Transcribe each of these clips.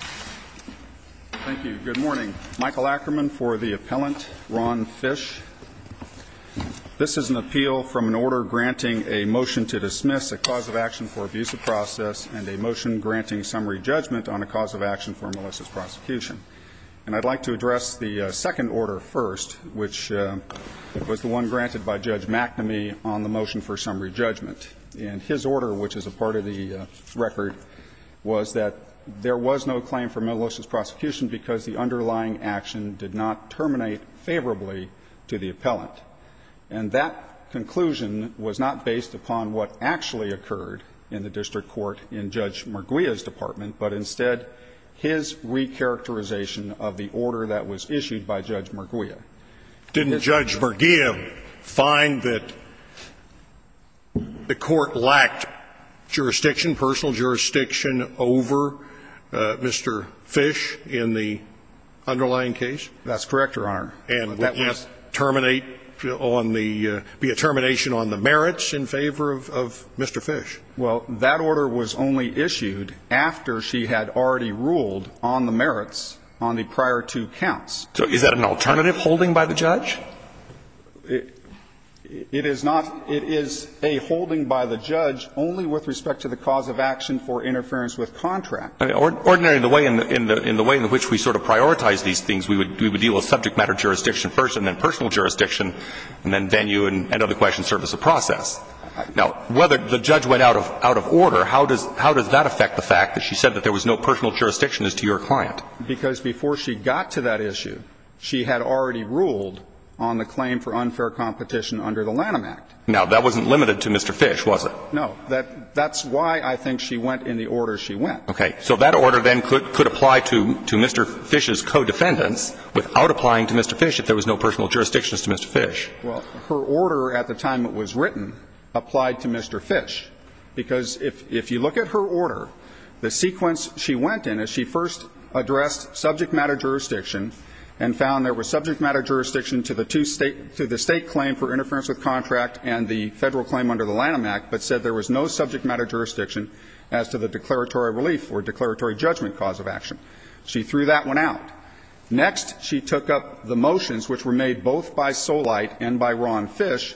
Thank you. Good morning. Michael Ackerman for the Appellant, Ron Fish. This is an appeal from an order granting a motion to dismiss a cause of action for abuse of process and a motion granting summary judgment on a cause of action for Melissa's prosecution. And I'd like to address the second order first, which was the one granted by Judge McNamee on the motion for summary judgment. And his order, which is a part of the record, was that there was no claim for Melissa's prosecution because the underlying action did not terminate favorably to the appellant. And that conclusion was not based upon what actually occurred in the district court in Judge Merguia's department, but instead his recharacterization of the order that was issued by Judge Merguia. Didn't Judge Merguia find that the court lacked jurisdiction, personal jurisdiction, over Mr. Fish in the underlying case? That's correct, Your Honor. And would that terminate on the be a termination on the merits in favor of Mr. Fish? Well, that order was only issued after she had already ruled on the merits on the prior two counts. So is that an alternative holding by the judge? It is not. It is a holding by the judge only with respect to the cause of action for interference with contract. Ordinarily, in the way in which we sort of prioritize these things, we would deal with subject matter jurisdiction first, and then personal jurisdiction, and then venue and other questions serve as a process. Now, whether the judge went out of order, how does that affect the fact that she said that there was no personal jurisdiction as to your client? Because before she got to that issue, she had already ruled on the claim for unfair competition under the Lanham Act. Now, that wasn't limited to Mr. Fish, was it? No. That's why I think she went in the order she went. Okay. So that order then could apply to Mr. Fish's co-defendants without applying to Mr. Fish, if there was no personal jurisdiction as to Mr. Fish. Well, her order at the time it was written applied to Mr. Fish, because if you look at her order, the sequence she went in is she first addressed subject matter jurisdiction and found there was subject matter jurisdiction to the two state to the state claim for interference with contract and the Federal claim under the Lanham Act, but said there was no subject matter jurisdiction as to the declaratory relief or declaratory judgment cause of action. She threw that one out. Next, she took up the motions, which were made both by Solight and by Ron Fish,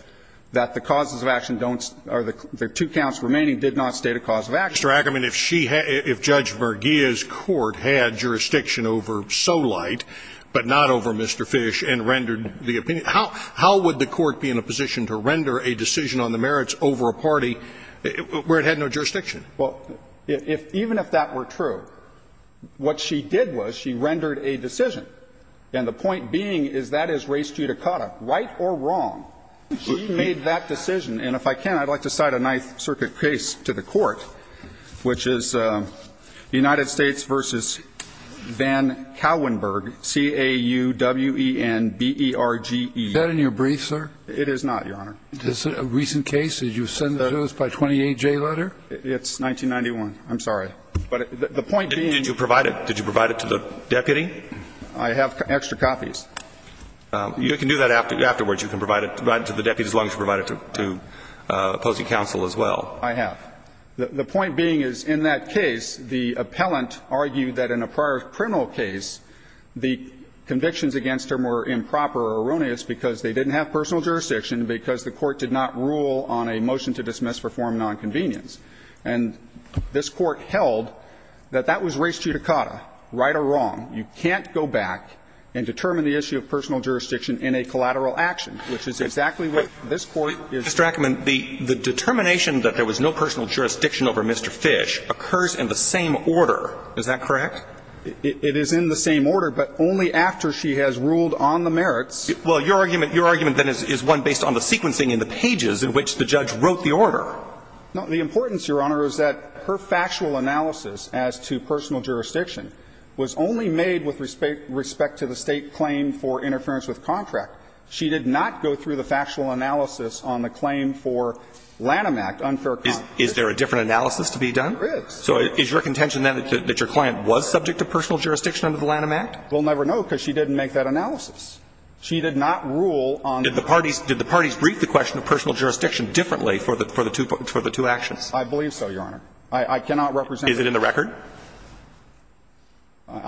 that the causes of action don't or the two counts remaining did not state a cause of action. Mr. Ackerman, if she had – if Judge Verghia's court had jurisdiction over Solight but not over Mr. Fish and rendered the opinion, how would the court be in a position to render a decision on the merits over a party where it had no jurisdiction? Well, even if that were true, what she did was she rendered a decision. And the point being is that is res judicata, right or wrong. She made that decision. And if I can, I'd like to cite a Ninth Circuit case to the Court, which is United States v. Van Cowenberg, C-A-U-W-E-N-B-E-R-G-E. Is that in your brief, sir? It is not, Your Honor. Is it a recent case? Did you send the notice by 28J letter? It's 1991. I'm sorry. But the point being – Did you provide it? Did you provide it to the deputy? I have extra copies. You can do that afterwards. You can provide it to the deputy as long as you provide it to opposing counsel as well. I have. The point being is in that case, the appellant argued that in a prior criminal case, the convictions against him were improper or erroneous because they didn't have personal jurisdiction, because the court did not rule on a motion to dismiss for form of nonconvenience. And this Court held that that was res judicata, right or wrong. You can't go back and determine the issue of personal jurisdiction in a collateral action, which is exactly what this Court is doing. Mr. Ackerman, the determination that there was no personal jurisdiction over Mr. Fish occurs in the same order. Is that correct? It is in the same order, but only after she has ruled on the merits. Well, your argument then is one based on the sequencing in the pages in which the judge wrote the order. No. The importance, Your Honor, is that her factual analysis as to personal jurisdiction was only made with respect to the State claim for interference with contract. She did not go through the factual analysis on the claim for Lanham Act, unfair contract. Is there a different analysis to be done? There is. So is your contention, then, that your client was subject to personal jurisdiction under the Lanham Act? We'll never know, because she didn't make that analysis. She did not rule on that. Did the parties brief the question of personal jurisdiction differently for the two actions? I believe so, Your Honor. I cannot represent that. Is it in the record? It's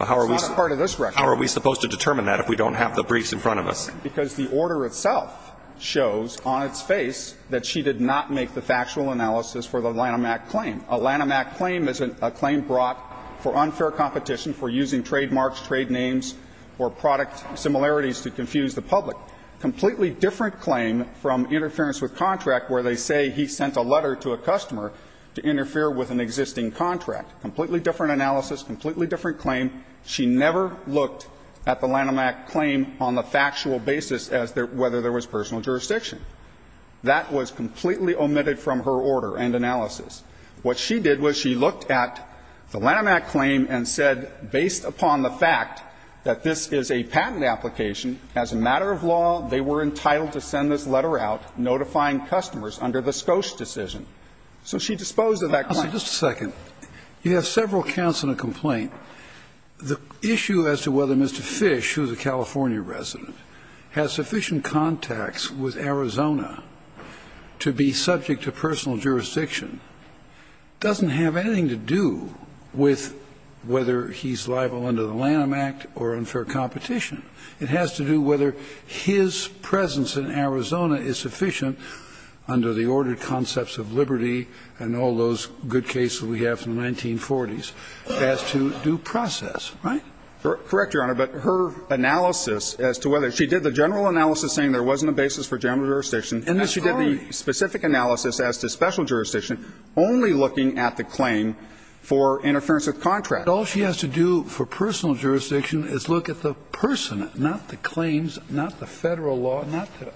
not a part of this record. How are we supposed to determine that if we don't have the briefs in front of us? Because the order itself shows on its face that she did not make the factual analysis for the Lanham Act claim. A Lanham Act claim is a claim brought for unfair competition for using trademarks, trade names, or product similarities to confuse the public. A completely different claim from interference with contract, where they say he sent a letter to a customer to interfere with an existing contract. Completely different analysis, completely different claim. She never looked at the Lanham Act claim on the factual basis as to whether there was personal jurisdiction. That was completely omitted from her order and analysis. What she did was she looked at the Lanham Act claim and said, based upon the fact that this is a patent application, as a matter of law, they were entitled to send this letter out notifying customers under the Scosche decision. So she disposed of that claim. Kennedy. Just a second. You have several counts in a complaint. The issue as to whether Mr. Fish, who is a California resident, has sufficient contacts with Arizona to be subject to personal jurisdiction doesn't have anything to do with whether he's liable under the Lanham Act or unfair competition. It has to do whether his presence in Arizona is sufficient under the ordered concepts of liberty and all those good cases we have from the 1940s as to due process. Right? Correct, Your Honor. But her analysis as to whether she did the general analysis saying there wasn't a basis for general jurisdiction, and then she did the specific analysis as to special jurisdiction only looking at the claim for interference with contract. All she has to do for personal jurisdiction is look at the person, not the claims, not the Federal law, not the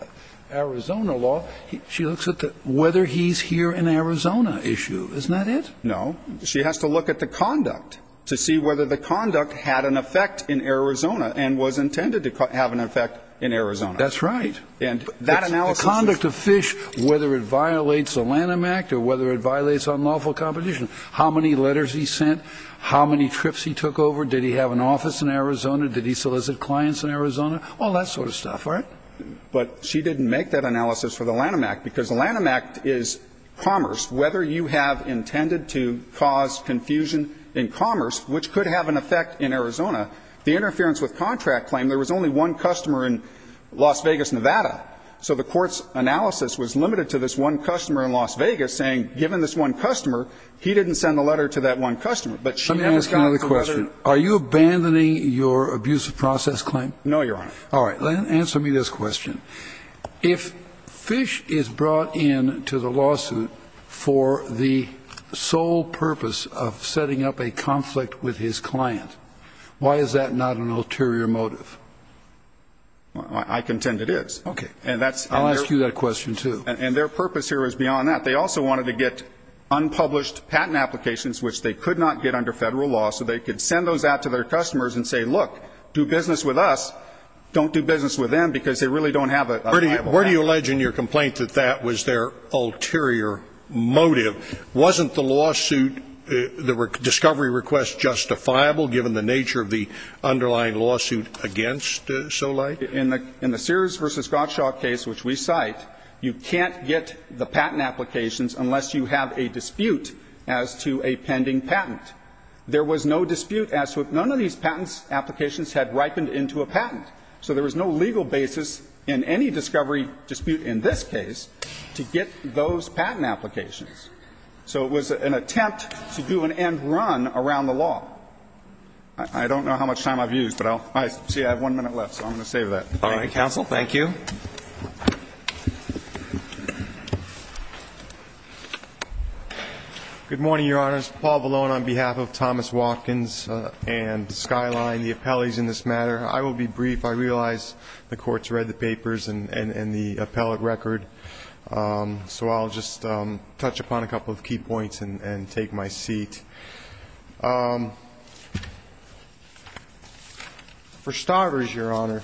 Arizona law. She looks at whether he's here in Arizona issue. Isn't that it? No. She has to look at the conduct to see whether the conduct had an effect in Arizona and was intended to have an effect in Arizona. That's right. And that analysis is. The conduct of Fish, whether it violates the Lanham Act or whether it violates unlawful competition. How many letters he sent? How many trips he took over? Did he have an office in Arizona? Did he solicit clients in Arizona? All that sort of stuff. Right? But she didn't make that analysis for the Lanham Act because the Lanham Act is commerce. Whether you have intended to cause confusion in commerce, which could have an effect in Arizona, the interference with contract claim, there was only one customer in Las Vegas, Nevada. So the Court's analysis was limited to this one customer in Las Vegas saying, given this one customer, he didn't send a letter to that one customer. But she has a conduct of whether. Let me ask you another question. Are you abandoning your abusive process claim? No, Your Honor. All right. Answer me this question. If Fish is brought in to the lawsuit for the sole purpose of setting up a conflict with his client, why is that not an ulterior motive? I contend it is. Okay. I'll ask you that question, too. And their purpose here is beyond that. They also wanted to get unpublished patent applications, which they could not get under federal law, so they could send those out to their customers and say, look, do business with us. Don't do business with them because they really don't have a viable patent. Where do you allege in your complaint that that was their ulterior motive? Wasn't the lawsuit, the discovery request justifiable, given the nature of the underlying lawsuit against Soleil? In the Sears v. Scottshaw case, which we cite, you can't get the patent applications unless you have a dispute as to a pending patent. There was no dispute as to if none of these patent applications had ripened into a patent, so there was no legal basis in any discovery dispute in this case to get those patent applications. So it was an attempt to do an end run around the law. I don't know how much time I've used, but I'll see I have one minute left, so I'm going to close that. All right, counsel, thank you. Good morning, Your Honors. Paul Vallone on behalf of Thomas Watkins and Skyline, the appellees in this matter. I will be brief. I realize the Court's read the papers and the appellate record, so I'll just touch upon a couple of key points and take my seat. For starters, Your Honor,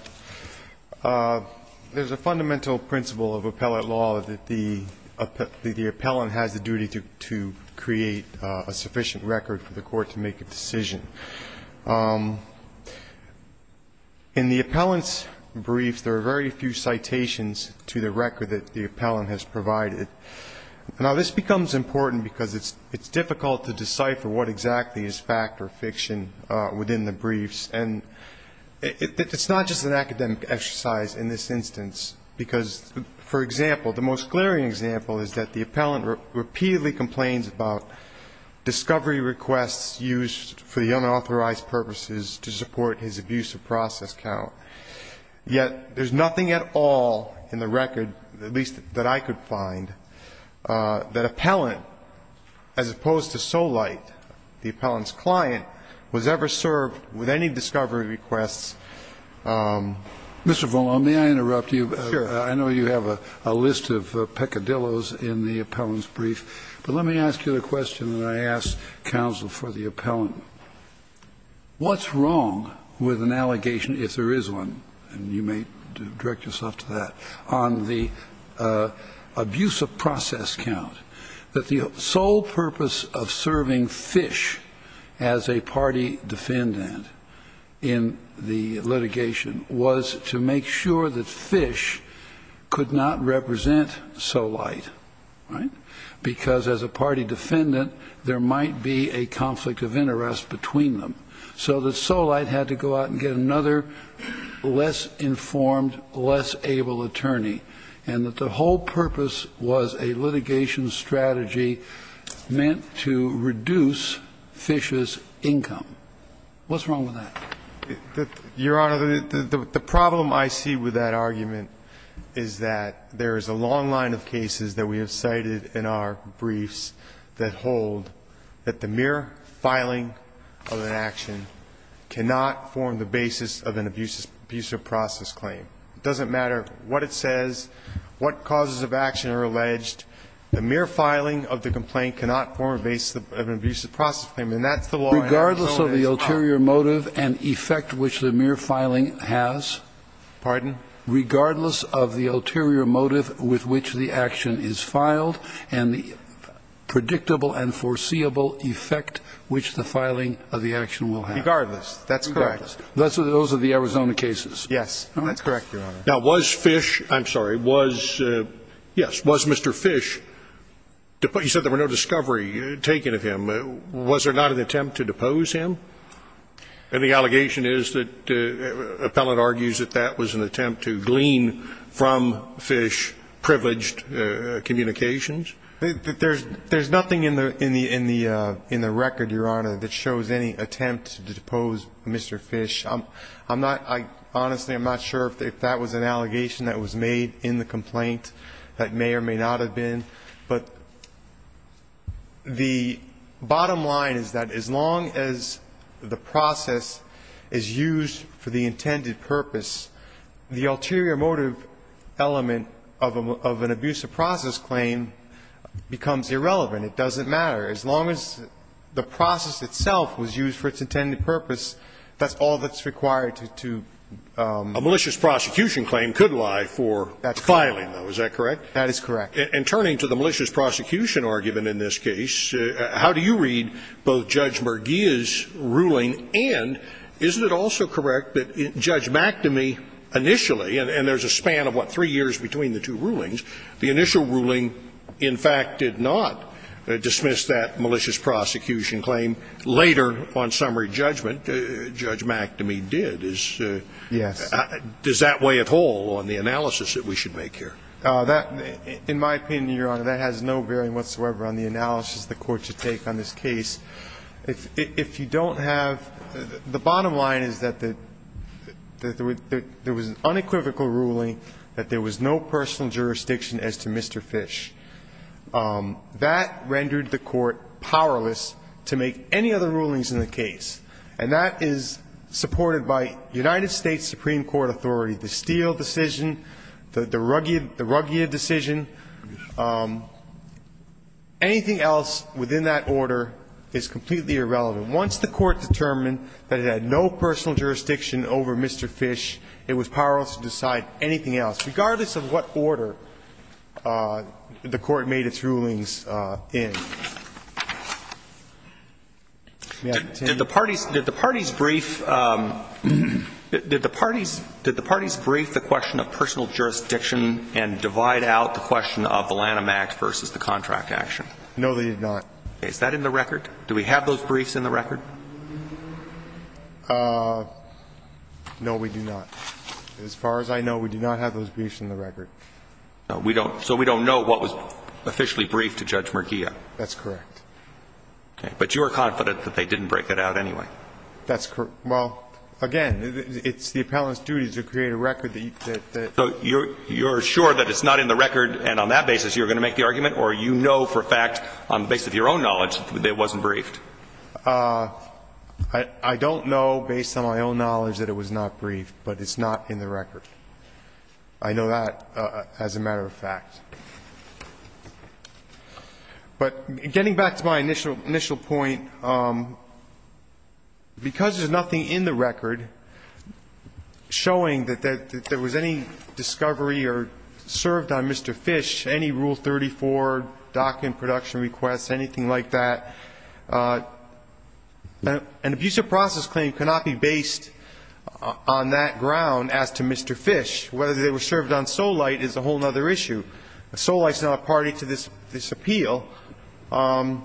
there's a fundamental principle of appellate law that the appellant has the duty to create a sufficient record for the Court to make a decision. In the appellant's brief, there are very few citations to the record that the appellant has provided. Now, this becomes important because it's difficult to decipher what exactly is fact or fiction within the briefs. And it's not just an academic exercise in this instance, because, for example, the most glaring example is that the appellant repeatedly complains about discovery requests used for the unauthorized purposes to support his abusive process count, yet there's no evidence at this point that appellant, as opposed to Solight, the appellant's client, was ever served with any discovery requests. Mr. Vallone, may I interrupt you? Sure. I know you have a list of peccadilloes in the appellant's brief, but let me ask you a question that I ask counsel for the appellant. What's wrong with an allegation, if there is one, and you may direct yourself to that, on the abusive process count, that the sole purpose of serving Fish as a party defendant in the litigation was to make sure that Fish could not represent Solight, right, because as a party defendant, there might be a conflict of interest between them, so that Solight had to go out and get another less informed, less able attorney, and that the whole purpose was a litigation strategy meant to reduce Fish's income. What's wrong with that? Your Honor, the problem I see with that argument is that there is a long line of cases that we have cited in our briefs that hold that the mere filing of an action cannot form the basis of an abusive process claim. It doesn't matter what it says, what causes of action are alleged. The mere filing of the complaint cannot form a basis of an abusive process claim, and that's the law in our case. Regardless of the ulterior motive and effect which the mere filing has? Pardon? Regardless of the ulterior motive with which the action is filed and the predictable and foreseeable effect which the filing of the action will have? Regardless. That's correct. Those are the Arizona cases. Yes. That's correct, Your Honor. Now, was Fish – I'm sorry. Was – yes. Was Mr. Fish – you said there were no discovery taken of him. Was there not an attempt to depose him? And the allegation is that the appellant argues that that was an attempt to glean from Fish privileged communications? There's nothing in the record, Your Honor, that shows any attempt to depose Mr. Fish. I'm not – honestly, I'm not sure if that was an allegation that was made in the complaint that may or may not have been. But the bottom line is that as long as the process is used for the intended purpose, the ulterior motive element of an abusive process claim becomes irrelevant. It doesn't matter. As long as the process itself was used for its intended purpose, that's all that's required to – to – A malicious prosecution claim could lie for filing, though. Is that correct? That is correct. And turning to the malicious prosecution argument in this case, how do you read both Judge McGeeh's ruling and, isn't it also correct that Judge McNamee initially – and there's a span of, what, three years between the two rulings? The initial ruling, in fact, did not dismiss that malicious prosecution claim. Later on summary judgment, Judge McNamee did. Yes. Does that weigh at all on the analysis that we should make here? That – in my opinion, Your Honor, that has no bearing whatsoever on the analysis the Court should take on this case. If you don't have – the bottom line is that there was an unequivocal ruling that there was no personal jurisdiction as to Mr. Fish. That rendered the Court powerless to make any other rulings in the case. And that is supported by United States Supreme Court authority, the Steele decision, the Ruggia decision. Anything else within that order is completely irrelevant. Once the Court determined that it had no personal jurisdiction over Mr. Fish, it was powerless to decide anything else, regardless of what order the Court made its rulings May I continue? Did the parties – did the parties brief the question of personal jurisdiction and divide out the question of the Lanham Act versus the contract action? No, they did not. Is that in the record? Do we have those briefs in the record? No, we do not. As far as I know, we do not have those briefs in the record. So we don't know what was officially briefed to Judge Ruggia? That's correct. Okay. But you are confident that they didn't break it out anyway? That's correct. Well, again, it's the appellant's duty to create a record that you can't – So you're sure that it's not in the record and on that basis you're going to make the argument, or you know for a fact on the basis of your own knowledge that it wasn't briefed? I don't know, based on my own knowledge, that it was not briefed, but it's not in the record. I know that as a matter of fact. But getting back to my initial point, because there's nothing in the record showing that there was any discovery or served on Mr. Fish, any Rule 34, docking production requests, anything like that, an abusive process claim cannot be based on that ground as to Mr. Fish. Whether they were served on Solite is a whole other issue. Solite is not a party to this appeal. Mr.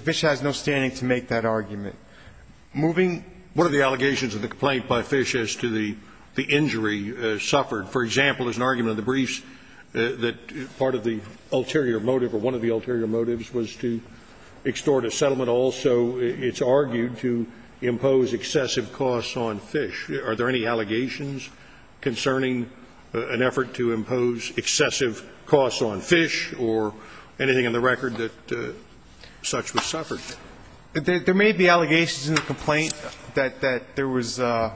Fish has no standing to make that argument. Moving – What are the allegations of the complaint by Fish as to the injury suffered? For example, there's an argument in the briefs that part of the ulterior motive or one of the ulterior motives was to extort a settlement. Also, it's argued to impose excessive costs on Fish. Are there any allegations concerning an effort to impose excessive costs on Fish or anything in the record that such was suffered? There may be allegations in the complaint that there was an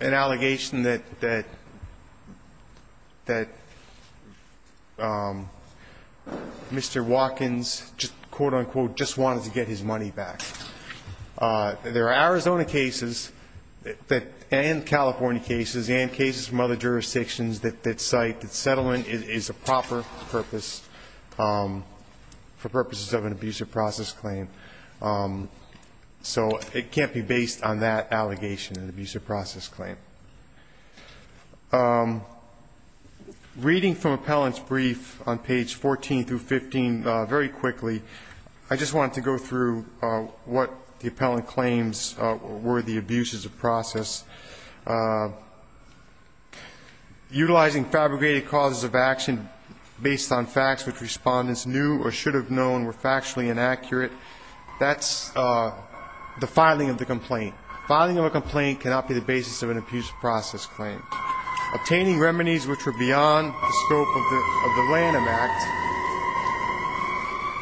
allegation that Mr. Watkins just, quote, unquote, just wanted to get his money back. There are Arizona cases and California cases and cases from other jurisdictions that cite that settlement is a proper purpose for purposes of an abusive process claim. So it can't be based on that allegation, an abusive process claim. Reading from appellant's brief on page 14 through 15 very quickly, I just wanted to go through what the appellant claims were the abuses of process. Utilizing fabricated causes of action based on facts which respondents knew or should have known were factually inaccurate, that's the filing of the complaint. Filing of a complaint cannot be the basis of an abusive process claim. Obtaining remedies which were beyond the scope of the Lanham Act,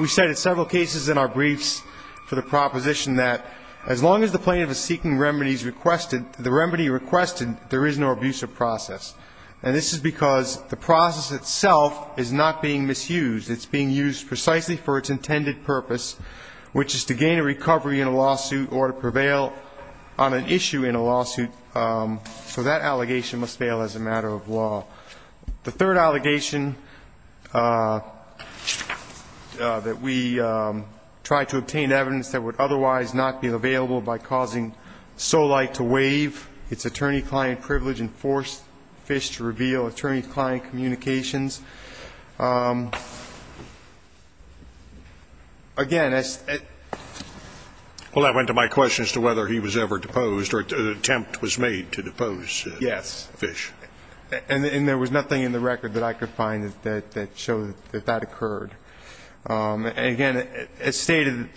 we cited several cases in our briefs for the proposition that as long as the plaintiff is seeking remedies requested, the remedy requested, there is no abusive process. And this is because the process itself is not being misused. It's being used precisely for its intended purpose, which is to gain a recovery in a lawsuit or to prevail on an issue in a lawsuit. So that allegation must fail as a matter of law. The third allegation that we tried to obtain evidence that would otherwise not be available by causing Solight to waive its attorney-client privilege and force Fish to reveal attorney-client communications. Again, it's the ---- Well, that went to my question as to whether he was ever deposed or an attempt was made to depose Fish. Yes. And there was nothing in the record that I could find that showed that that occurred. Again, as stated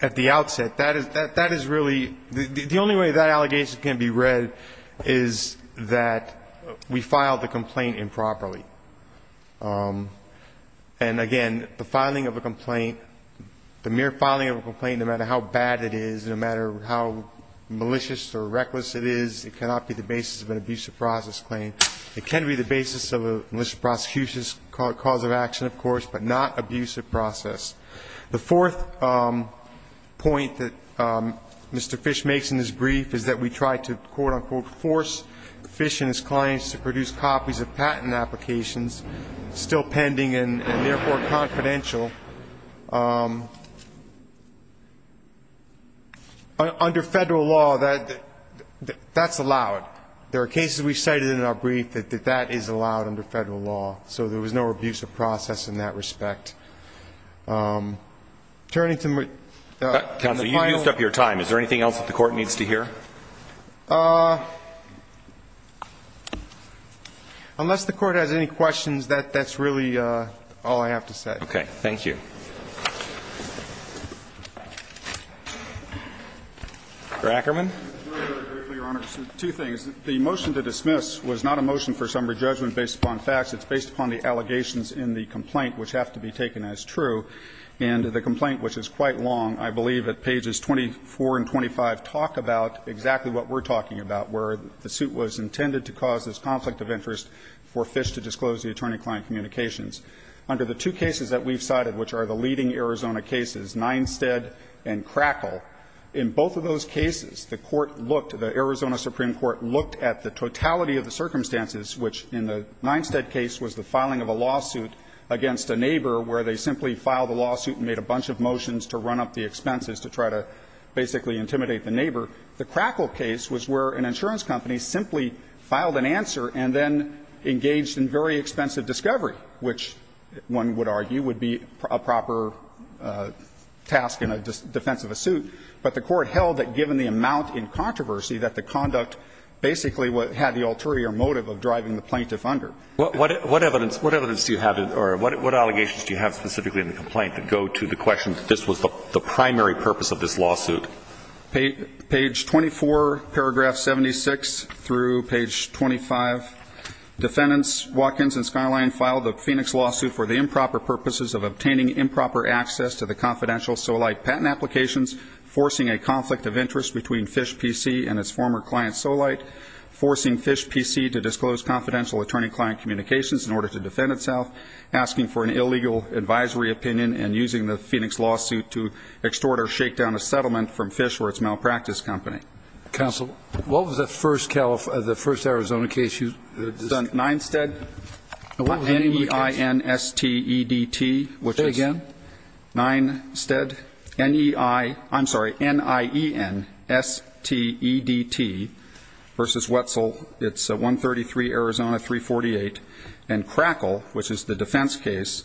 at the outset, that is really the only way that allegation can be read is that we filed the complaint improperly. And, again, the filing of a complaint, the mere filing of a complaint, no matter how bad it is, no matter how malicious or reckless it is, it cannot be the basis of an abusive process claim. It can be the basis of a malicious prosecution's cause of action, of course, but not abusive process. The fourth point that Mr. Fish makes in his brief is that we tried to, quote-unquote, force Fish and his clients to produce copies of patent applications, still pending and, therefore, confidential. Under Federal law, that's allowed. There are cases we've cited in our brief that that is allowed under Federal law, so there was no abusive process in that respect. Turning to my final point. Counsel, you've used up your time. Is there anything else that the Court needs to hear? Unless the Court has any questions, that's really all I have to say. Okay. Thank you. Mr. Ackerman. Two things. The motion to dismiss was not a motion for summary judgment based upon facts. It's based upon the allegations in the complaint, which have to be taken as true. And the complaint, which is quite long, I believe at pages 24 and 25, talk about exactly what we're talking about, where the suit was intended to cause this conflict of interest for Fish to disclose the attorney-client communications. Under the two cases that we've cited, which are the leading Arizona cases, Ninestead and Crackle, in both of those cases, the Court looked, the Arizona Supreme Court looked at the totality of the circumstances, which in the Ninestead case was the filing of a lawsuit against a neighbor where they simply filed a lawsuit and made a bunch of motions to run up the expenses to try to basically intimidate the neighbor. The Crackle case was where an insurance company simply filed an answer and then engaged in very expensive discovery, which one would argue would be a proper task in defense of a suit. But the Court held that given the amount in controversy, that the conduct basically had the ulterior motive of driving the plaintiff under. What evidence do you have or what allegations do you have specifically in the complaint that go to the question that this was the primary purpose of this lawsuit? Page 24, paragraph 76 through page 25, defendants Watkins and Skyline filed a Phoenix lawsuit for the improper purposes of obtaining improper access to the confidential Solite patent applications, forcing a conflict of interest between Phish PC and its former client Solite, forcing Phish PC to disclose confidential attorney-client communications in order to defend itself, asking for an illegal advisory opinion, and using the Phoenix lawsuit to extort or shake down a settlement from Phish or its malpractice company. Counsel, what was the first Arizona case you discussed? Ninestead. What was the name of the case? N-E-I-N-S-T-E-D-T, which is Say again. Ninestead. N-E-I, I'm sorry, N-I-E-N-S-T-E-D-T versus Wetzel. It's 133 Arizona 348. And Crackle, which is the defense case,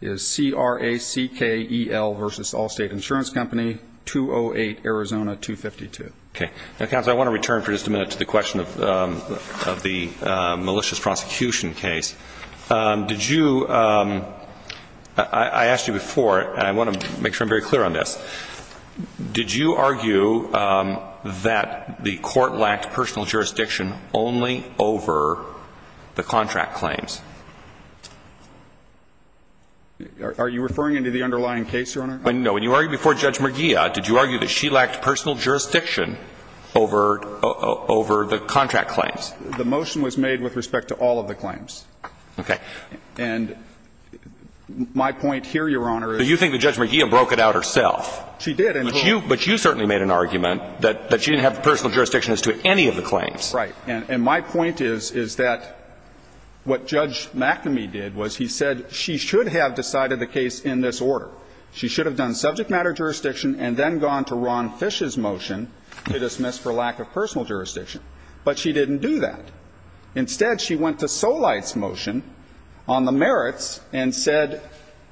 is C-R-A-C-K-E-L versus Allstate Insurance Company, 208 Arizona 252. Okay. Now, counsel, I want to return for just a minute to the question of the malicious prosecution case. Did you – I asked you before, and I want to make sure I'm very clear on this. Did you argue that the court lacked personal jurisdiction only over the contract claims? Are you referring to the underlying case, Your Honor? No. When you argued before Judge Merguia, did you argue that she lacked personal jurisdiction over the contract claims? The motion was made with respect to all of the claims. Okay. And my point here, Your Honor, is – But you think that Judge Merguia broke it out herself. She did. But you certainly made an argument that she didn't have personal jurisdiction as to any of the claims. Right. And my point is, is that what Judge McNamee did was he said she should have decided the case in this order. She should have done subject matter jurisdiction and then gone to Ron Fish's motion to dismiss for lack of personal jurisdiction. But she didn't do that. Instead, she went to Solight's motion on the merits and said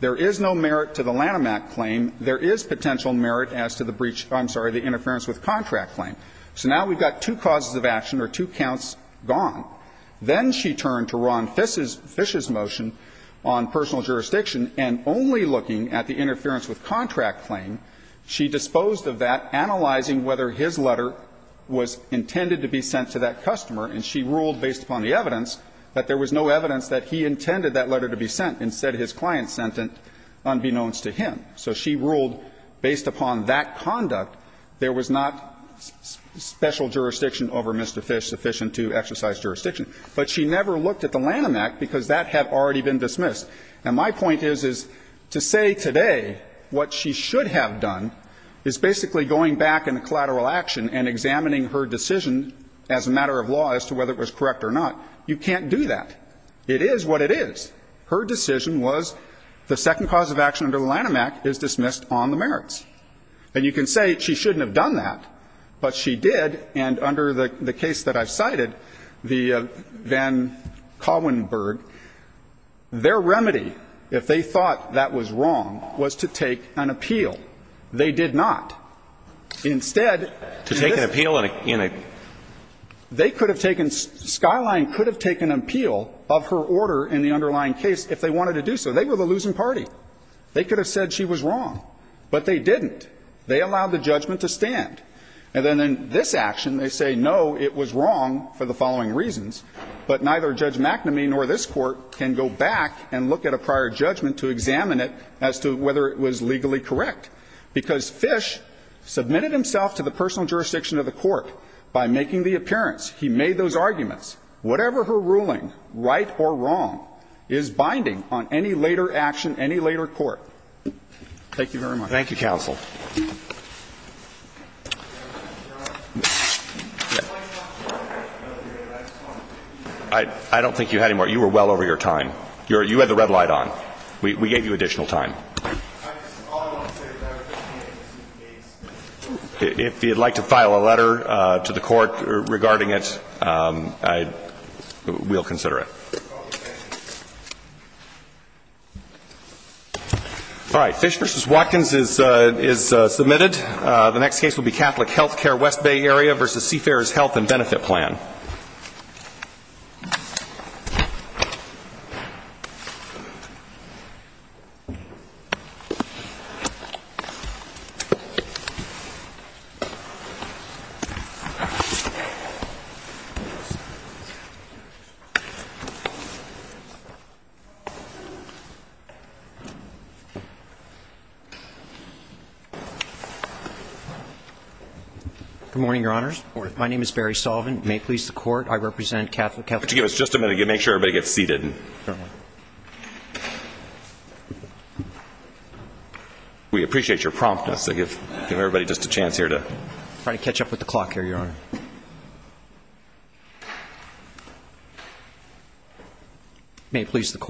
there is no merit to the Lanham Act claim, there is potential merit as to the breach – I'm sorry, the interference with contract claim. So now we've got two causes of action or two counts gone. Then she turned to Ron Fish's motion on personal jurisdiction, and only looking at the interference with contract claim, she disposed of that, analyzing whether his letter was intended to be sent to that customer. And she ruled, based upon the evidence, that there was no evidence that he intended that letter to be sent. Instead, his client sent it unbeknownst to him. So she ruled, based upon that conduct, there was not special jurisdiction over Mr. Fish sufficient to exercise jurisdiction. But she never looked at the Lanham Act because that had already been dismissed. And my point is, is to say today what she should have done is basically going back into collateral action and examining her decision as a matter of law as to whether it was correct or not. You can't do that. It is what it is. Her decision was the second cause of action under the Lanham Act is dismissed on the merits. And you can say she shouldn't have done that, but she did. And under the case that I've cited, the Van Collenburg, their remedy, if they thought that was wrong, was to take an appeal. They did not. Instead, they could have taken – Skyline could have taken an appeal of her order in the underlying case if they wanted to do so. They were the losing party. They could have said she was wrong, but they didn't. They allowed the judgment to stand. And then in this action, they say, no, it was wrong for the following reasons, but neither Judge McNamee nor this Court can go back and look at a prior judgment to examine it as to whether it was legally correct. Because Fish submitted himself to the personal jurisdiction of the Court by making the appearance. He made those arguments. Whatever her ruling, right or wrong, is binding on any later action, any later court. Thank you very much. Thank you, counsel. I don't think you had any more. You were well over your time. You had the red light on. We gave you additional time. If you'd like to file a letter to the Court regarding it, we'll consider it. All right. Fish v. Watkins is submitted. The next case will be Catholic Healthcare, West Bay Area v. Seafarer's Health and Good morning, Your Honors. Good morning. My name is Barry Sullivan. May it please the Court, I represent Catholic Healthcare. everybody get seated. We appreciate your promptness to give everybody just a chance here to try to catch up with the clock here, Your Honor. May it please the Court.